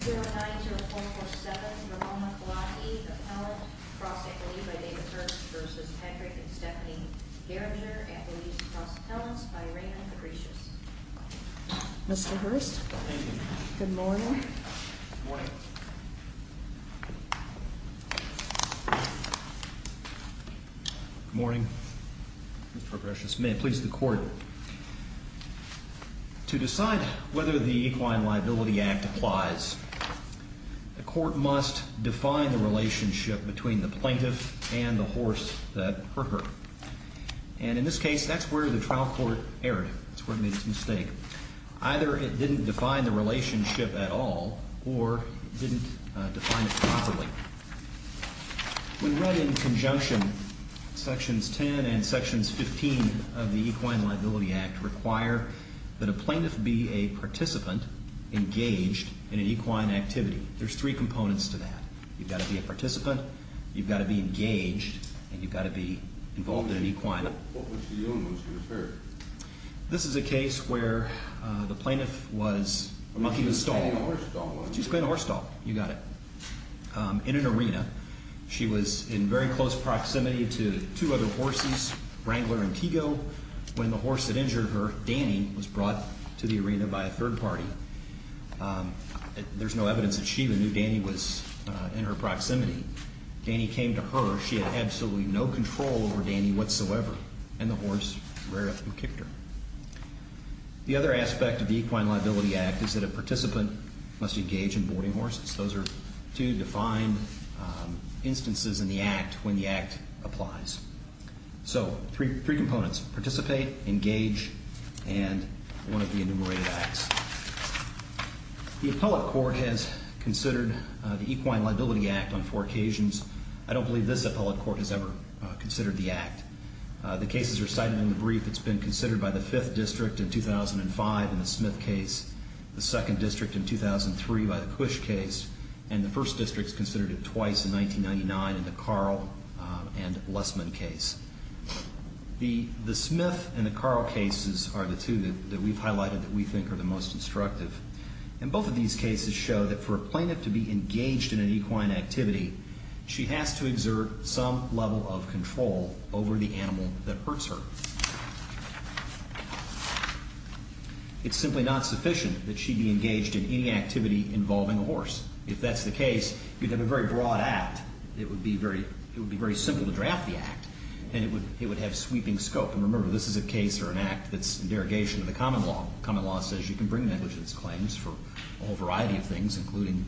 090447 Ramon Lacki, appellant, cross-appellee by David Hurst v. Hendrick and Stephanie Garinger, appellees cross-appellants by Raymond Grecias. Mr. Hurst. Thank you. Good morning. Good morning. Good morning. Mr. Grecias, may it please the court. To decide whether the Equine Liability Act applies, the court must define the relationship between the plaintiff and the horse that hurt her. And in this case, that's where the trial court erred. That's where it made its mistake. Either it didn't define the relationship at all, or it didn't define it properly. We read in conjunction, sections 10 and sections 15 of the Equine Liability Act require that a plaintiff be a participant engaged in an equine activity. There's three components to that. You've got to be a participant, you've got to be engaged, and you've got to be involved in an equine. What was the illness you referred? This is a case where the plaintiff was a monkey with a stall. She was playing horse stall. She was playing horse stall. You got it. In an arena, she was in very close proximity to two other horses, Wrangler and Tego. When the horse had injured her, Danny was brought to the arena by a third party. There's no evidence that she even knew Danny was in her proximity. Danny came to her. She had absolutely no control over Danny whatsoever. And the horse rared up and kicked her. The other aspect of the Equine Liability Act is that a participant must engage in boarding horses. Those are two defined instances in the Act when the Act applies. So, three components. Participate, engage, and one of the enumerated acts. The appellate court has considered the Equine Liability Act on four occasions. I don't believe this appellate court has ever considered the Act. The cases are cited in the brief. It's been considered by the Fifth District in 2005 in the Smith case, the Second District in 2003 by the Cush case, and the First District has considered it twice in 1999 in the Carl and Lessman case. The Smith and the Carl cases are the two that we've highlighted that we think are the most instructive. And both of these cases show that for a plaintiff to be engaged in an equine activity, she has to exert some level of control over the animal that hurts her. It's simply not sufficient that she be engaged in any activity involving a horse. If that's the case, you'd have a very broad Act. It would be very simple to draft the Act, and it would have sweeping scope. And remember, this is a case or an Act that's in derogation of the common law. The common law says you can bring negligence claims for a whole variety of things, including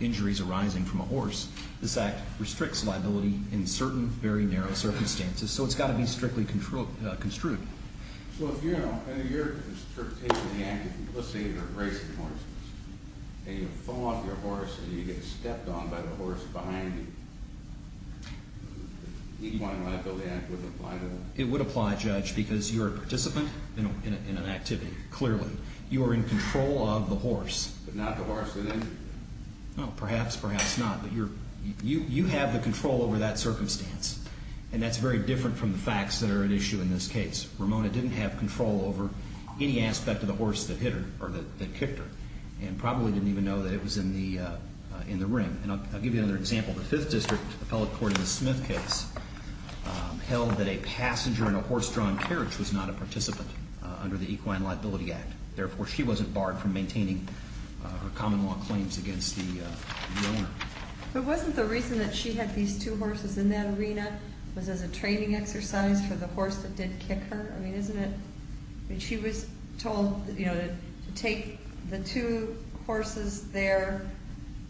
injuries arising from a horse. This Act restricts liability in certain very narrow circumstances, so it's got to be strictly construed. So if, you know, under your interpretation of the Act, let's say you're racing a horse, and you fall off your horse, and you get stepped on by the horse behind you, the Equine Liability Act wouldn't apply to that? It would apply, Judge, because you're a participant in an activity, clearly. You are in control of the horse. But not the horse in any way? Well, perhaps, perhaps not. But you have the control over that circumstance, and that's very different from the facts that are at issue in this case. Ramona didn't have control over any aspect of the horse that hit her, or that kicked her, and probably didn't even know that it was in the ring. And I'll give you another example. The Fifth District Appellate Court in the Smith case held that a passenger in a horse-drawn carriage was not a participant under the Equine Liability Act. Therefore, she wasn't barred from maintaining her common law claims against the owner. But wasn't the reason that she had these two horses in that arena was as a training exercise for the horse that did kick her? I mean, isn't it? She was told, you know, to take the two horses there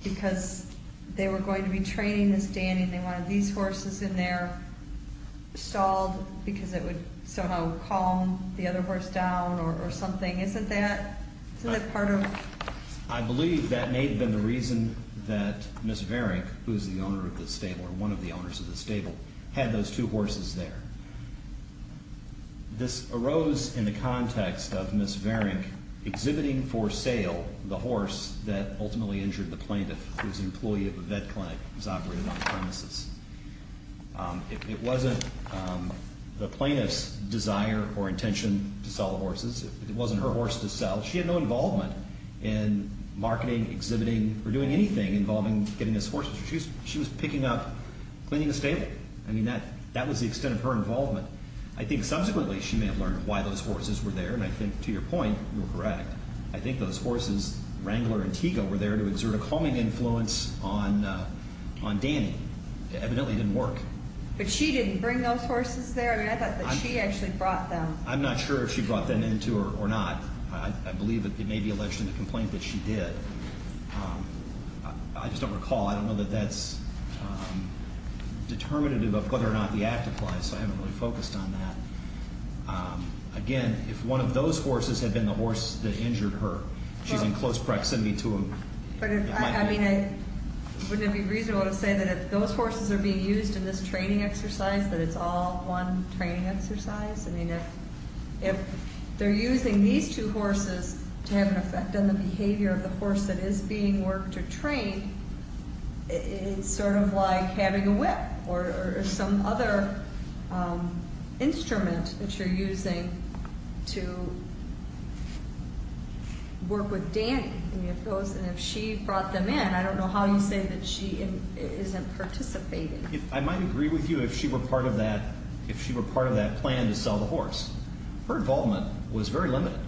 because they were going to be training this day, and they wanted these horses in there stalled because it would somehow calm the other horse down or something. Isn't that part of...? I believe that may have been the reason that Miss Varenk, who is the owner of this stable or one of the owners of this stable, had those two horses there. This arose in the context of Miss Varenk exhibiting for sale the horse that ultimately injured the plaintiff, whose employee of a vet clinic was operating on the premises. It wasn't the plaintiff's desire or intention to sell the horses. It wasn't her horse to sell. She had no involvement in marketing, exhibiting, or doing anything involving getting those horses. She was picking up, cleaning the stable. I mean, that was the extent of her involvement. I think subsequently she may have learned why those horses were there, and I think, to your point, you're correct. I think those horses, Wrangler and Tego, were there to exert a calming influence on Danny. It evidently didn't work. But she didn't bring those horses there? I mean, I thought that she actually brought them. I'm not sure if she brought them into or not. I believe it may be alleged in the complaint that she did. I just don't recall. I don't know that that's determinative of whether or not the act applies, so I haven't really focused on that. Again, if one of those horses had been the horse that injured her, she's in close proximity to him. But, I mean, wouldn't it be reasonable to say that if those horses are being used in this training exercise, that it's all one training exercise? I mean, if they're using these two horses to have an effect on the behavior of the horse that is being worked or trained, it's sort of like having a whip or some other instrument that you're using to work with Danny. And if she brought them in, I don't know how you say that she isn't participating. I might agree with you if she were part of that plan to sell the horse. Her involvement was very limited.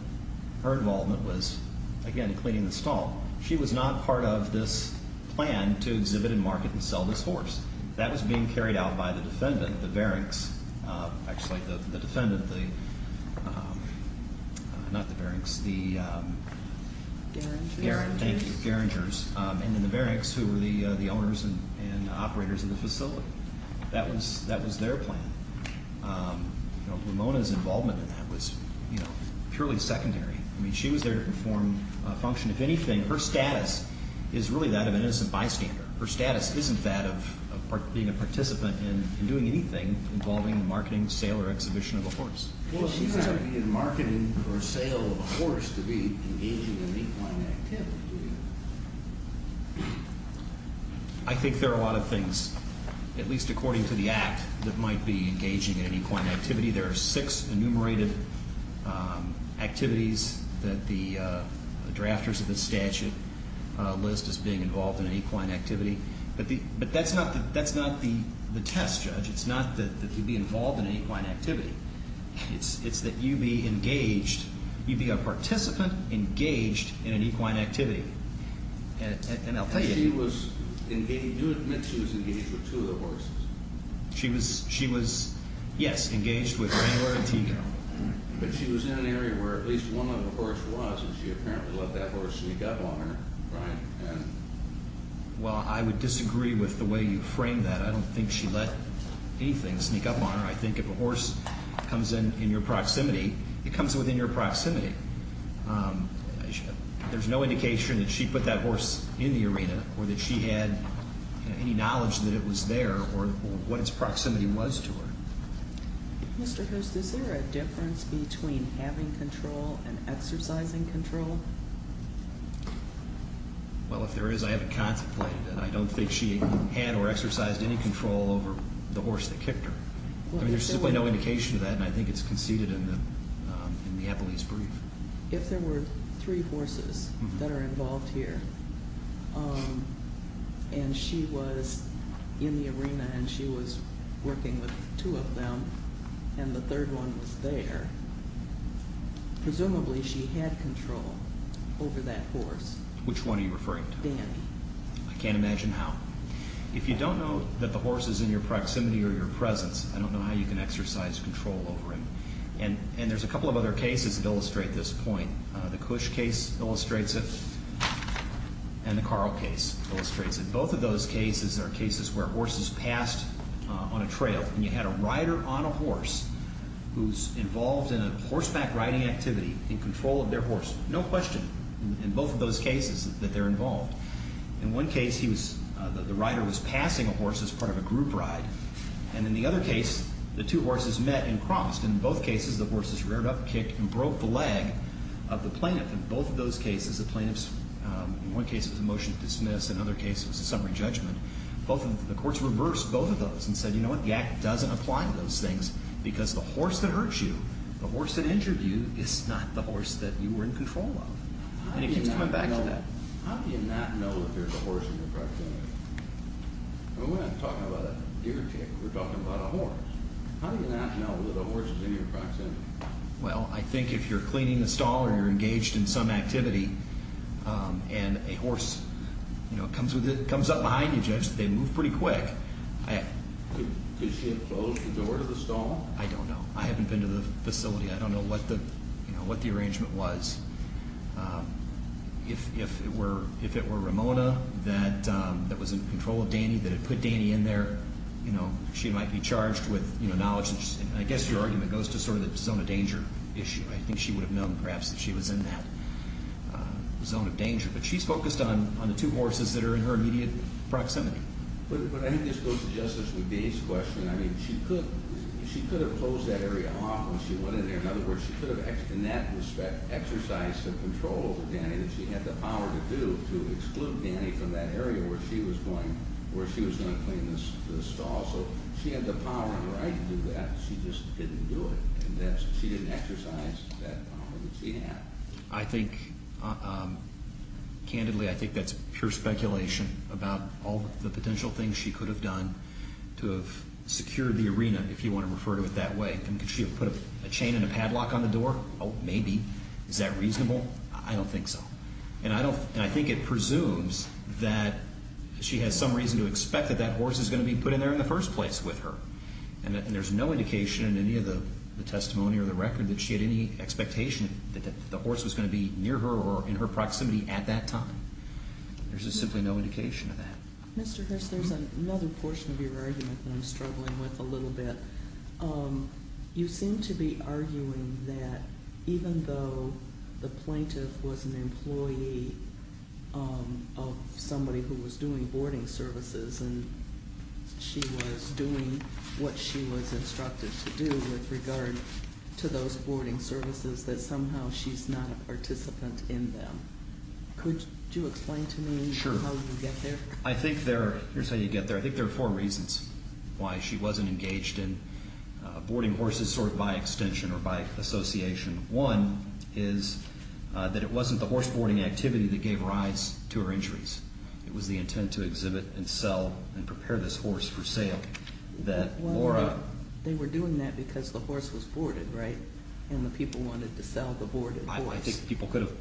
Her involvement was, again, cleaning the stall. She was not part of this plan to exhibit and market and sell this horse. That was being carried out by the defendant, the Varinks. Actually, the defendant, not the Varinks, the Garingers. And then the Varinks, who were the owners and operators of the facility. That was their plan. Ramona's involvement in that was purely secondary. I mean, she was there to perform a function. If anything, her status is really that of an innocent bystander. Her status isn't that of being a participant in doing anything involving marketing, sale, or exhibition of a horse. Well, she's not in marketing or sale of a horse to be engaging in equine activity. I think there are a lot of things, at least according to the Act, that might be engaging in equine activity. There are six enumerated activities that the drafters of the statute list as being involved in equine activity. But that's not the test, Judge. It's not that you'd be involved in equine activity. It's that you'd be a participant engaged in an equine activity. And I'll tell you. Do admit she was engaged with two of the horses. She was, yes, engaged with Rangler and Tico. But she was in an area where at least one of the horses was, and she apparently let that horse sneak up on her. Well, I would disagree with the way you framed that. I don't think she let anything sneak up on her. I think if a horse comes in your proximity, it comes within your proximity. There's no indication that she put that horse in the arena or that she had any knowledge that it was there or what its proximity was to her. Mr. Hurst, is there a difference between having control and exercising control? Well, if there is, I haven't contemplated it. I don't think she had or exercised any control over the horse that kicked her. There's simply no indication of that, and I think it's conceded in the appellee's brief. If there were three horses that are involved here and she was in the arena and she was working with two of them and the third one was there, presumably she had control over that horse. Which one are you referring to? Danny. I can't imagine how. If you don't know that the horse is in your proximity or your presence, I don't know how you can exercise control over him. And there's a couple of other cases that illustrate this point. The Cush case illustrates it and the Carl case illustrates it. Both of those cases are cases where horses passed on a trail and you had a rider on a horse who's involved in a horseback riding activity in control of their horse. No question in both of those cases that they're involved. In one case the rider was passing a horse as part of a group ride, and in the other case the two horses met and crossed. In both cases the horses reared up, kicked, and broke the leg of the plaintiff. In both of those cases the plaintiff's, in one case it was a motion to dismiss, in another case it was a summary judgment. The courts reversed both of those and said, you know what, the Act doesn't apply to those things because the horse that hurts you, the horse that injured you, is not the horse that you were in control of. And it keeps coming back to that. How do you not know that there's a horse in your proximity? We're not talking about a deer tick, we're talking about a horse. How do you not know that a horse is in your proximity? Well, I think if you're cleaning the stall or you're engaged in some activity and a horse comes up behind you, Judge, they move pretty quick. Could she have closed the door to the stall? I don't know. I haven't been to the facility. I don't know what the arrangement was. If it were Ramona that was in control of Danny, that had put Danny in there, she might be charged with knowledge. I guess your argument goes to sort of the zone of danger issue. I think she would have known perhaps that she was in that zone of danger. But she's focused on the two horses that are in her immediate proximity. But I think this goes to justice with Dave's question. I mean, she could have closed that area off when she went in there. In other words, she could have exercised the control over Danny that she had the power to do to exclude Danny from that area where she was going to clean the stall. So she had the power and the right to do that. She just didn't do it. She didn't exercise that power that she had. I think, candidly, I think that's pure speculation about all the potential things she could have done to have secured the arena, if you want to refer to it that way. Could she have put a chain and a padlock on the door? Oh, maybe. Is that reasonable? I don't think so. And I think it presumes that she has some reason to expect that that horse is going to be put in there in the first place with her. And there's no indication in any of the testimony or the record that she had any expectation that the horse was going to be near her or in her proximity at that time. There's just simply no indication of that. Mr. Hirst, there's another portion of your argument that I'm struggling with a little bit. You seem to be arguing that even though the plaintiff was an employee of somebody who was doing boarding services and she was doing what she was instructed to do with regard to those boarding services, that somehow she's not a participant in them. Could you explain to me how you get there? Sure. Here's how you get there. I think there are four reasons why she wasn't engaged in boarding horses sort of by extension or by association. One is that it wasn't the horse boarding activity that gave rise to her injuries. It was the intent to exhibit and sell and prepare this horse for sale that Laura— Well, they were doing that because the horse was boarded, right? And the people wanted to sell the boarded horse. I think people could have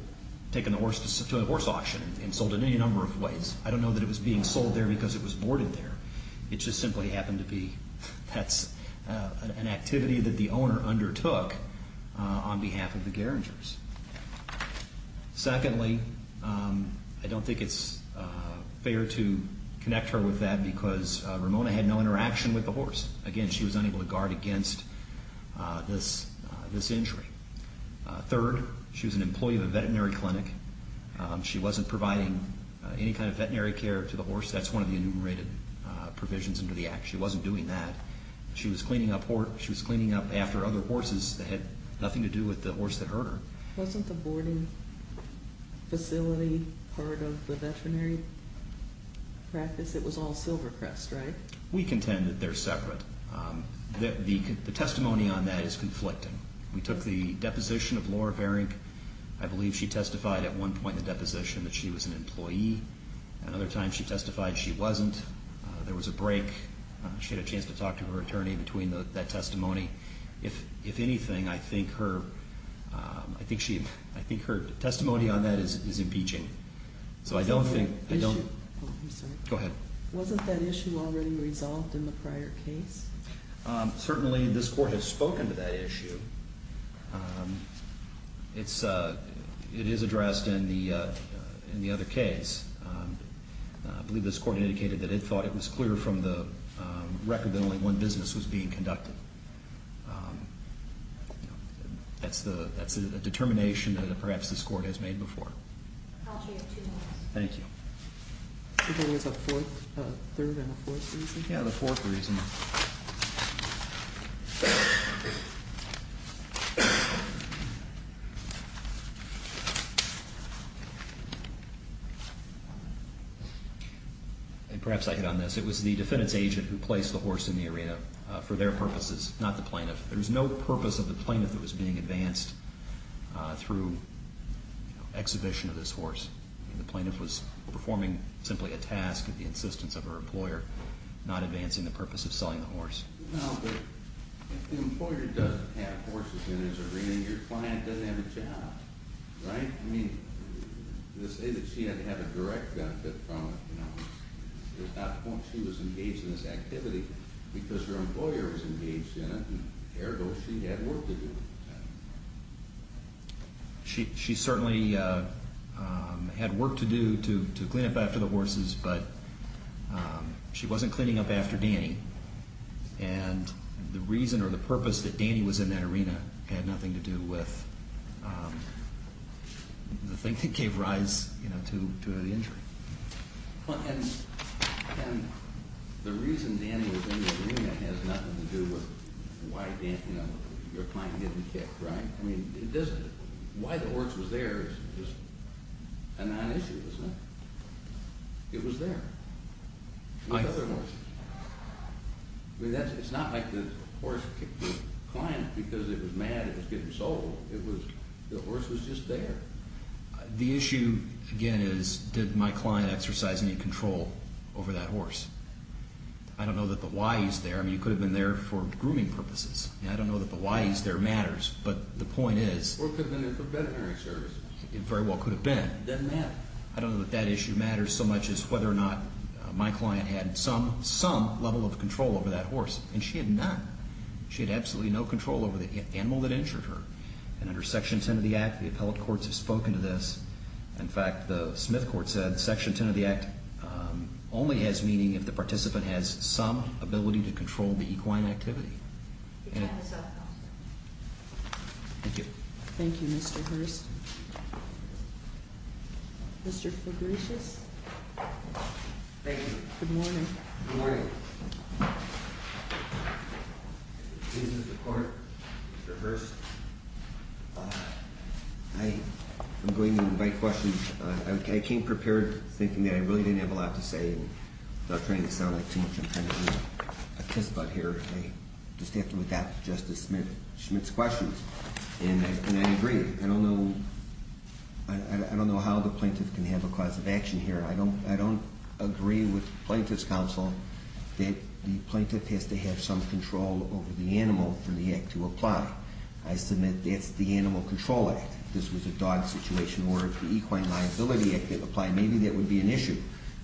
taken the horse to a horse auction and sold it any number of ways. I don't know that it was being sold there because it was boarded there. It just simply happened to be an activity that the owner undertook on behalf of the Garingers. Secondly, I don't think it's fair to connect her with that because Ramona had no interaction with the horse. Again, she was unable to guard against this injury. Third, she was an employee of a veterinary clinic. She wasn't providing any kind of veterinary care to the horse. That's one of the enumerated provisions under the Act. She wasn't doing that. She was cleaning up after other horses that had nothing to do with the horse that hurt her. Wasn't the boarding facility part of the veterinary practice? It was all Silvercrest, right? We contend that they're separate. The testimony on that is conflicting. We took the deposition of Laura Garing. I believe she testified at one point in the deposition that she was an employee. Another time she testified she wasn't. There was a break. She had a chance to talk to her attorney between that testimony. If anything, I think her testimony on that is impeaching. Go ahead. Wasn't that issue already resolved in the prior case? Certainly this court has spoken to that issue. It is addressed in the other case. I believe this court indicated that it thought it was clear from the record that only one business was being conducted. That's a determination that perhaps this court has made before. I'll change it. Thank you. You're giving us a third and a fourth reason? Yes, the fourth reason. Perhaps I hit on this. It was the defendant's agent who placed the horse in the arena for their purposes, not the plaintiff. There was no purpose of the plaintiff that was being advanced through exhibition of this horse. The plaintiff was performing simply a task at the insistence of her employer, not advancing the purpose of selling the horse. Well, but if the employer doesn't have horses in his arena, your client doesn't have a job, right? I mean, let's say that she had to have a direct benefit from it. There's not the point she was engaged in this activity because her employer was engaged in it and therefore she had work to do. She certainly had work to do to clean up after the horses, but she wasn't cleaning up after Danny. And the reason or the purpose that Danny was in that arena had nothing to do with the thing that gave rise to the injury. And the reason Danny was in the arena has nothing to do with why your client didn't kick, right? I mean, why the horse was there is just a non-issue, isn't it? It was there. It's not like the horse kicked the client because it was mad it was getting sold. The horse was just there. The issue, again, is did my client exercise any control over that horse? I don't know that the why is there. I mean, you could have been there for grooming purposes. I don't know that the why is there matters, but the point is— Or it could have been for veterinary services. It very well could have been. It doesn't matter. I don't know that that issue matters so much as whether or not my client had some, some level of control over that horse. And she had none. She had absolutely no control over the animal that injured her. And under Section 10 of the Act, the appellate courts have spoken to this. In fact, the Smith court said Section 10 of the Act only has meaning if the participant has some ability to control the equine activity. Thank you. Thank you, Mr. Hurst. Mr. Fabricius. Thank you. Good morning. Good morning. Please, Mr. Court, Mr. Hurst. I am going to invite questions. I came prepared thinking that I really didn't have a lot to say. And without trying to sound like too much, I'm trying to be a kiss-butt here. I just have to adapt to Justice Smith's questions. And I agree. I don't know—I don't know how the plaintiff can have a cause of action here. I don't—I don't agree with Plaintiff's Counsel that the plaintiff has to have some control over the animal for the act to apply. I submit that's the Animal Control Act. This was a dog situation where if the Equine Liability Act didn't apply, maybe that would be an issue.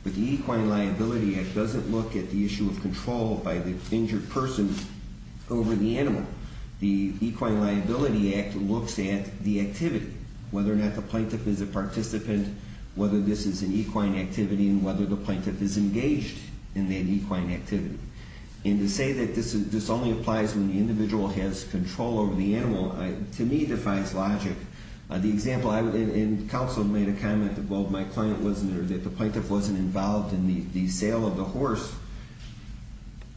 But the Equine Liability Act doesn't look at the issue of control by the injured person over the animal. The Equine Liability Act looks at the activity, whether or not the plaintiff is a participant, whether this is an equine activity, and whether the plaintiff is engaged in that equine activity. And to say that this only applies when the individual has control over the animal, to me, defies logic. The example—and Counsel made a comment that, well, my client wasn't—or that the plaintiff wasn't involved in the sale of the horse.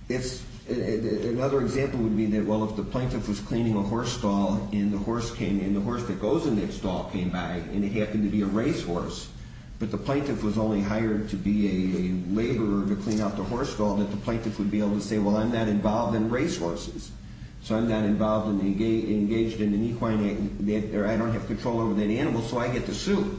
It's—another example would be that, well, if the plaintiff was cleaning a horse stall, and the horse came—and the horse that goes in that stall came by, and it happened to be a racehorse, but the plaintiff was only hired to be a laborer to clean out the horse stall, that the plaintiff would be able to say, well, I'm not involved in racehorses, so I'm not involved and engaged in an equine—or I don't have control over that animal, so I get to sue.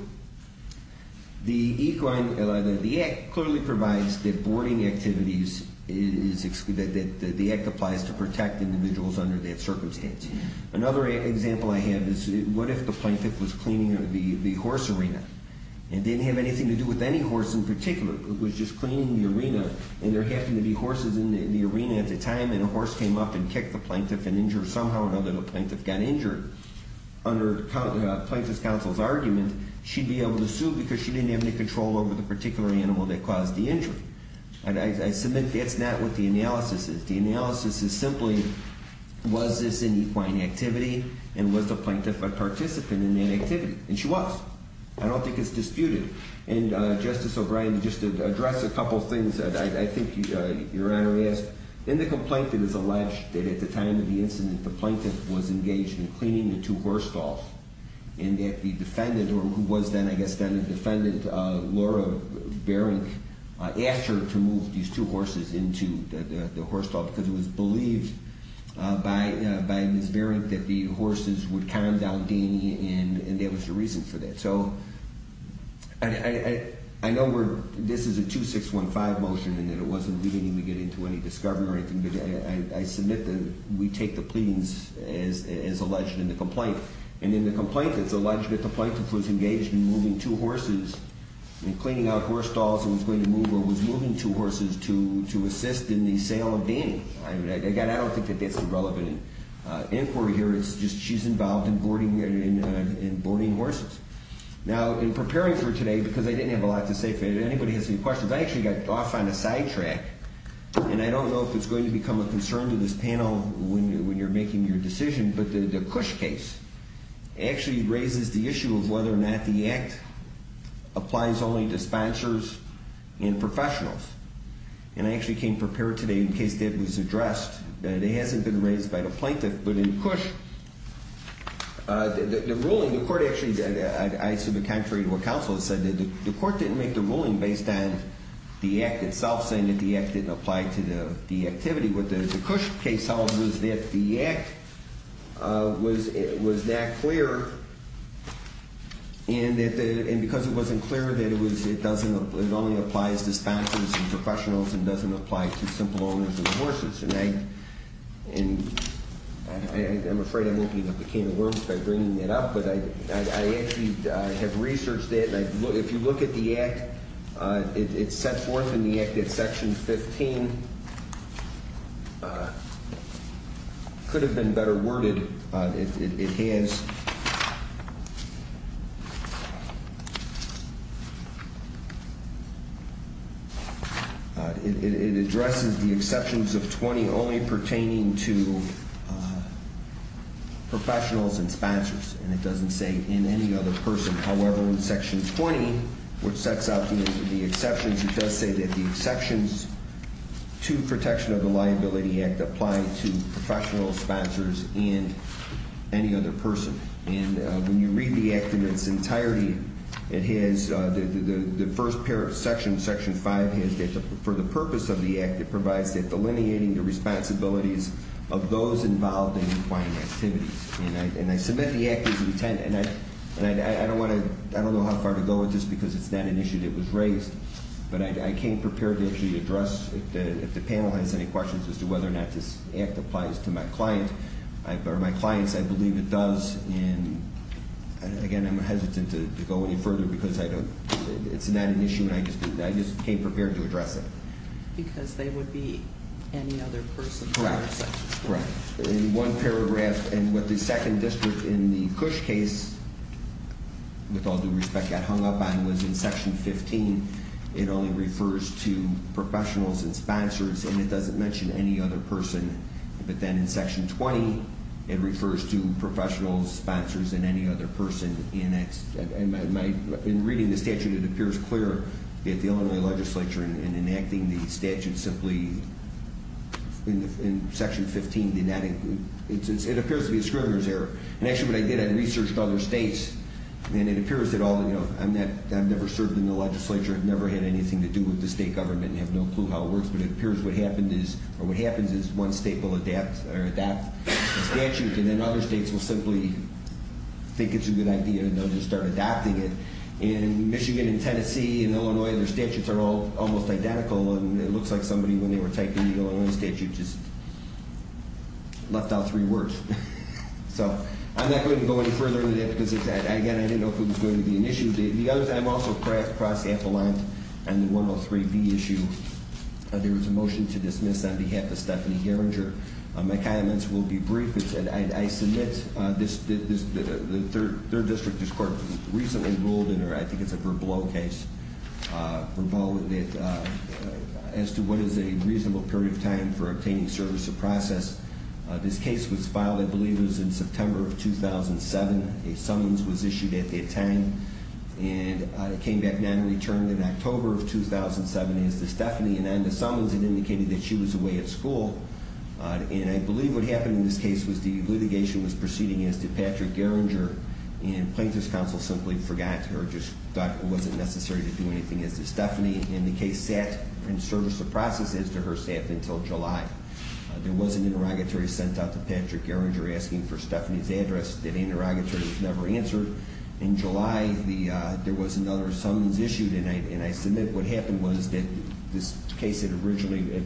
The Equine—the act clearly provides that boarding activities is—that the act applies to protect individuals under that circumstance. Another example I have is, what if the plaintiff was cleaning the horse arena? It didn't have anything to do with any horse in particular. It was just cleaning the arena, and there happened to be horses in the arena at the time, and a horse came up and kicked the plaintiff and injured—somehow or another, the plaintiff got injured. Under Plaintiff's Counsel's argument, she'd be able to sue because she didn't have any control over the particular animal that caused the injury. And I submit that's not what the analysis is. The analysis is simply, was this an equine activity, and was the plaintiff a participant in that activity? And she was. I don't think it's disputed. And, Justice O'Brien, just to address a couple of things that I think Your Honor asked. In the complaint, it is alleged that at the time of the incident, the plaintiff was engaged in cleaning the two horse stalls, and that the defendant, or who was then, I guess, then a defendant, Laura Baring, asked her to move these two horses into the horse stall because it was believed by Ms. Baring that the horses would calm down Danny, and there was a reason for that. So, I know this is a 2615 motion, and that it wasn't leading me to get into any discovery or anything, but I submit that we take the pleadings as alleged in the complaint. And in the complaint, it's alleged that the plaintiff was engaged in moving two horses, in cleaning out horse stalls, and was going to move, or was moving two horses to assist in the sale of Danny. Again, I don't think that that's relevant inquiry here. It's just she's involved in boarding horses. Now, in preparing for today, because I didn't have a lot to say, if anybody has any questions, I actually got off on a sidetrack, and I don't know if it's going to become a concern to this panel when you're making your decision, but the Cush case actually raises the issue of whether or not the act applies only to sponsors and professionals. And I actually came prepared today in case that was addressed, that it hasn't been raised by the plaintiff. But in Cush, the ruling, the court actually, I assume the contrary to what counsel has said, that the court didn't make the ruling based on the act itself, saying that the act didn't apply to the activity. What the Cush case held was that the act was that clear, and because it wasn't clear, that it only applies to sponsors and professionals and doesn't apply to simple owners of the horses. And I'm afraid I won't be the king of words by bringing it up, but I actually have researched it, and if you look at the act, it's set forth in the act at section 15, could have been better worded. It has, it addresses the exceptions of 20 only pertaining to professionals and sponsors, and it doesn't say in any other person. However, in section 20, which sets out the exceptions, it does say that the exceptions to protection of the liability act apply to professional sponsors and any other person. And when you read the act in its entirety, it has, the first pair of sections, section 5 has, for the purpose of the act, it provides that delineating the responsibilities of those involved in requiring activities. And I submit the act as intended, and I don't want to, I don't know how far to go with this because it's not an issue that was raised, but I came prepared to actually address, if the panel has any questions as to whether or not this act applies to my client, or my clients, I believe it does. And again, I'm hesitant to go any further because I don't, it's not an issue and I just came prepared to address it. Because they would be any other person. Correct, correct. In one paragraph, and what the second district in the Cush case, with all due respect, got hung up on was in section 15, it only refers to professionals and sponsors, and it doesn't mention any other person. But then in section 20, it refers to professionals, sponsors, and any other person. In reading the statute, it appears clear that the Illinois legislature in enacting the statute simply, in section 15, did not include, it appears to be a Scrivener's error. And actually what I did, I researched other states, and it appears that all, you know, I've never served in the legislature, I've never had anything to do with the state government, I have no clue how it works, but it appears what happened is, or what happens is, one state will adopt the statute, and then other states will simply think it's a good idea and they'll just start adopting it. And Michigan and Tennessee and Illinois, their statutes are all almost identical, and it looks like somebody, when they were typing the Illinois statute, just left out three words. So, I'm not going to go any further than that because, again, I didn't know if it was going to be an issue. The other thing, I'm also cross-staff aligned on the 103B issue. There was a motion to dismiss on behalf of Stephanie Gerringer. My comments will be brief. I submit this, the 3rd District District Court recently ruled in their, I think it's a Verblow case, Verblow, as to what is a reasonable period of time for obtaining service or process. This case was filed, I believe it was in September of 2007. A summons was issued at that time, and it came back nonreturned in October of 2007 as to Stephanie, and on the summons it indicated that she was away at school. And I believe what happened in this case was the litigation was proceeding as to Patrick Gerringer, and plaintiff's counsel simply forgot or just thought it wasn't necessary to do anything as to Stephanie, and the case sat in service or process as to her staff until July. There was an interrogatory sent out to Patrick Gerringer asking for Stephanie's address. That interrogatory was never answered. In July, there was another summons issued, and I submit what happened was that this case had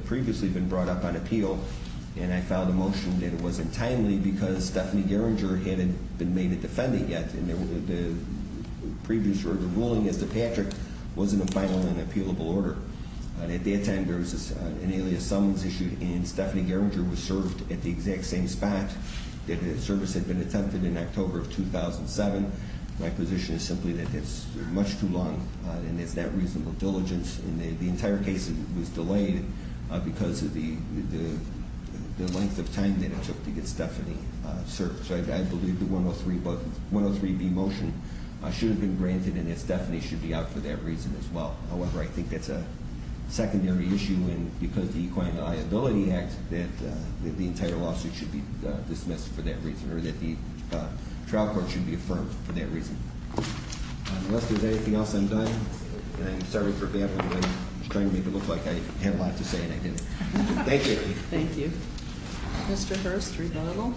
previously been brought up on appeal, and I filed a motion that it wasn't timely because Stephanie Gerringer hadn't been made a defendant yet, and the previous ruling as to Patrick wasn't a final and appealable order. At that time, there was an alias summons issued, and Stephanie Gerringer was served at the exact same spot. The service had been attempted in October of 2007. My position is simply that it's much too long, and it's not reasonable diligence, and the entire case was delayed because of the length of time that it took to get Stephanie served. So I believe the 103B motion should have been granted, and that Stephanie should be out for that reason as well. However, I think that's a secondary issue, and because of the Equine Liability Act, that the entire lawsuit should be dismissed for that reason, or that the trial court should be affirmed for that reason. Unless there's anything else I'm done, I'm sorry for baffling you. I was trying to make it look like I had a lot to say, and I didn't. Thank you. Thank you. Mr. Hurst, rebuttal.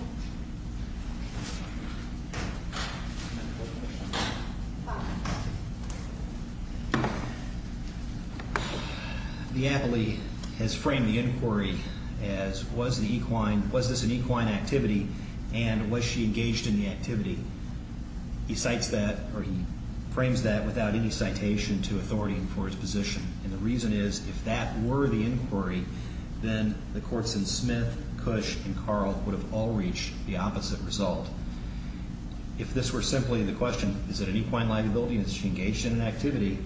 The appellee has framed the inquiry as, was this an equine activity, and was she engaged in the activity? He cites that, or he frames that without any citation to authority for his position, and the reason is, if that were the inquiry, then the courts in Smith, Cush, and Carl would have all reached the opposite result. If this were simply the question, is it an equine liability, and is she engaged in an activity,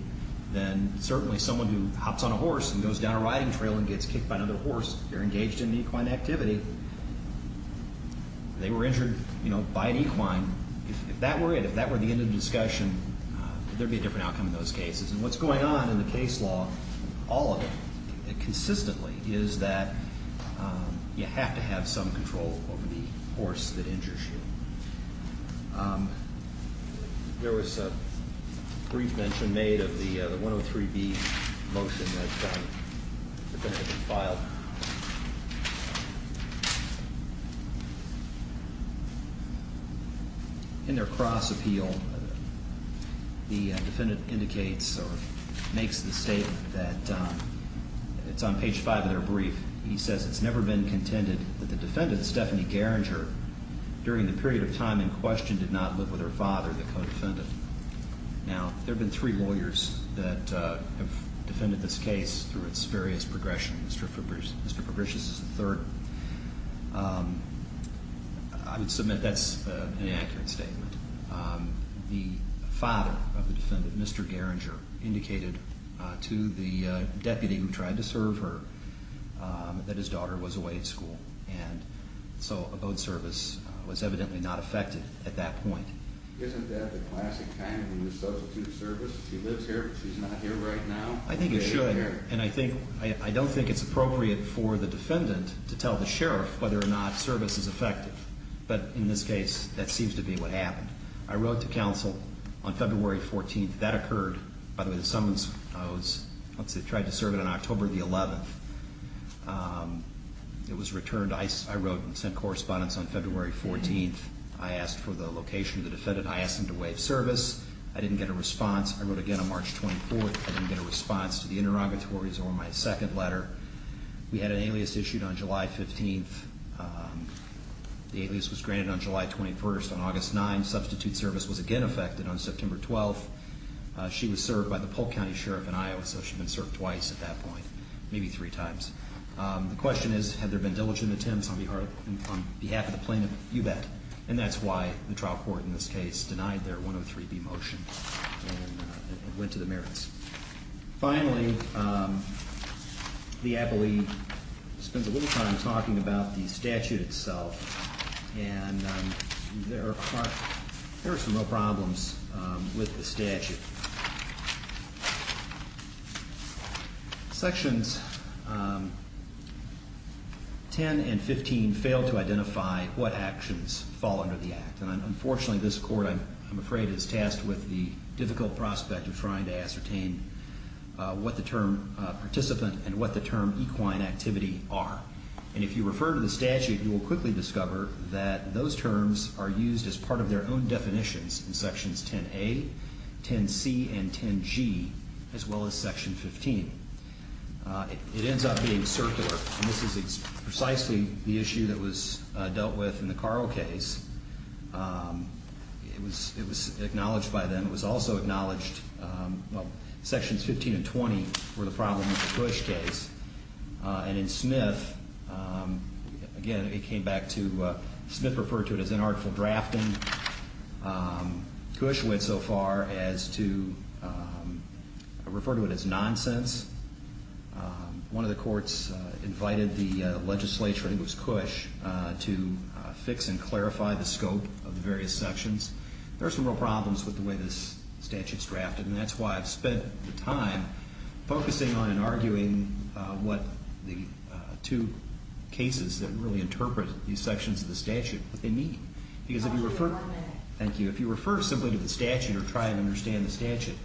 then certainly someone who hops on a horse and goes down a riding trail and gets kicked by another horse, they're engaged in an equine activity. They were injured, you know, by an equine. If that were it, if that were the end of the discussion, could there be a different outcome in those cases? And what's going on in the case law, all of it consistently, is that you have to have some control over the horse that injures you. There was a brief mention made of the 103B motion that has been filed. In their cross appeal, the defendant indicates or makes the statement that it's on page 5 of their brief. He says, it's never been contended that the defendant, Stephanie Garinger, during the period of time in question did not live with her father, the co-defendant. Now, there have been three lawyers that have defended this case through its various progressions. Mr. Fabricius is the third. I would submit that's an inaccurate statement. The father of the defendant, Mr. Garinger, indicated to the deputy who tried to serve her that his daughter was away at school, and so abode service was evidently not effective at that point. Isn't that the classic kind where you substitute service? She lives here, but she's not here right now? I think it should. And I don't think it's appropriate for the defendant to tell the sheriff whether or not service is effective. But in this case, that seems to be what happened. I wrote to counsel on February 14th. That occurred. By the way, the summons, I tried to serve it on October 11th. It was returned. I wrote and sent correspondence on February 14th. I asked for the location of the defendant. I asked him to waive service. I didn't get a response. I wrote again on March 24th. I didn't get a response to the interrogatories or my second letter. We had an alias issued on July 15th. The alias was granted on July 21st. On August 9th, substitute service was again effected. On September 12th, she was served by the Polk County Sheriff in Iowa, so she'd been served twice at that point, maybe three times. The question is, have there been diligent attempts on behalf of the plaintiff? You bet. And that's why the trial court in this case denied their 103B motion and went to the merits. Finally, the appellee spends a little time talking about the statute itself. Sections 10 and 15 fail to identify what actions fall under the Act, and unfortunately this court, I'm afraid, is tasked with the difficult prospect of trying to ascertain what the term participant and what the term equine activity are. And if you refer to the statute, you will quickly discover that those terms are used as part of their own definitions in sections 10A, 10C, and 10G, as well as section 15. It ends up being circular, and this is precisely the issue that was dealt with in the Carl case. It was acknowledged by them. It was also acknowledged, well, sections 15 and 20 were the problem with the Bush case. And in Smith, again, it came back to Smith referred to it as inartful drafting. Cush went so far as to refer to it as nonsense. One of the courts invited the legislature, and it was Cush, to fix and clarify the scope of the various sections. There are some real problems with the way this statute is drafted, and that's why I've spent the time focusing on and arguing what the two cases that really interpret these sections of the statute, what they mean. Because if you refer simply to the statute or try and understand the statute,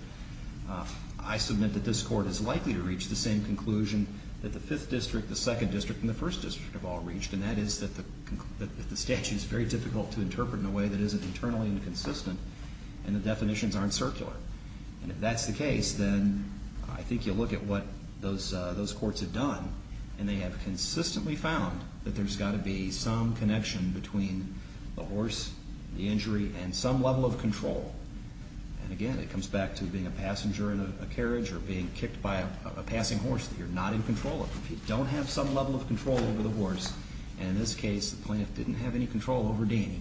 I submit that this court is likely to reach the same conclusion that the 5th District, the 2nd District, and the 1st District have all reached, and that is that the statute is very difficult to interpret in a way that isn't internally inconsistent, and the definitions aren't circular. And if that's the case, then I think you'll look at what those courts have done, and they have consistently found that there's got to be some connection between the horse, the injury, and some level of control. And again, it comes back to being a passenger in a carriage or being kicked by a passing horse that you're not in control of. If you don't have some level of control over the horse, and in this case the plaintiff didn't have any control over Danny,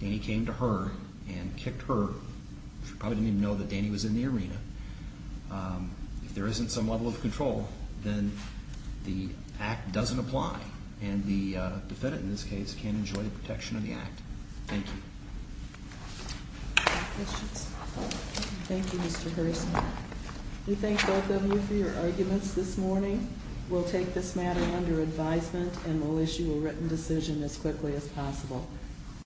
Danny came to her and kicked her. She probably didn't even know that Danny was in the arena. If there isn't some level of control, then the act doesn't apply, and the defendant in this case can enjoy the protection of the act. Thank you. Any questions? Thank you, Mr. Harrison. We thank both of you for your arguments this morning. We'll take this matter under advisement, and we'll issue a written decision as quickly as possible.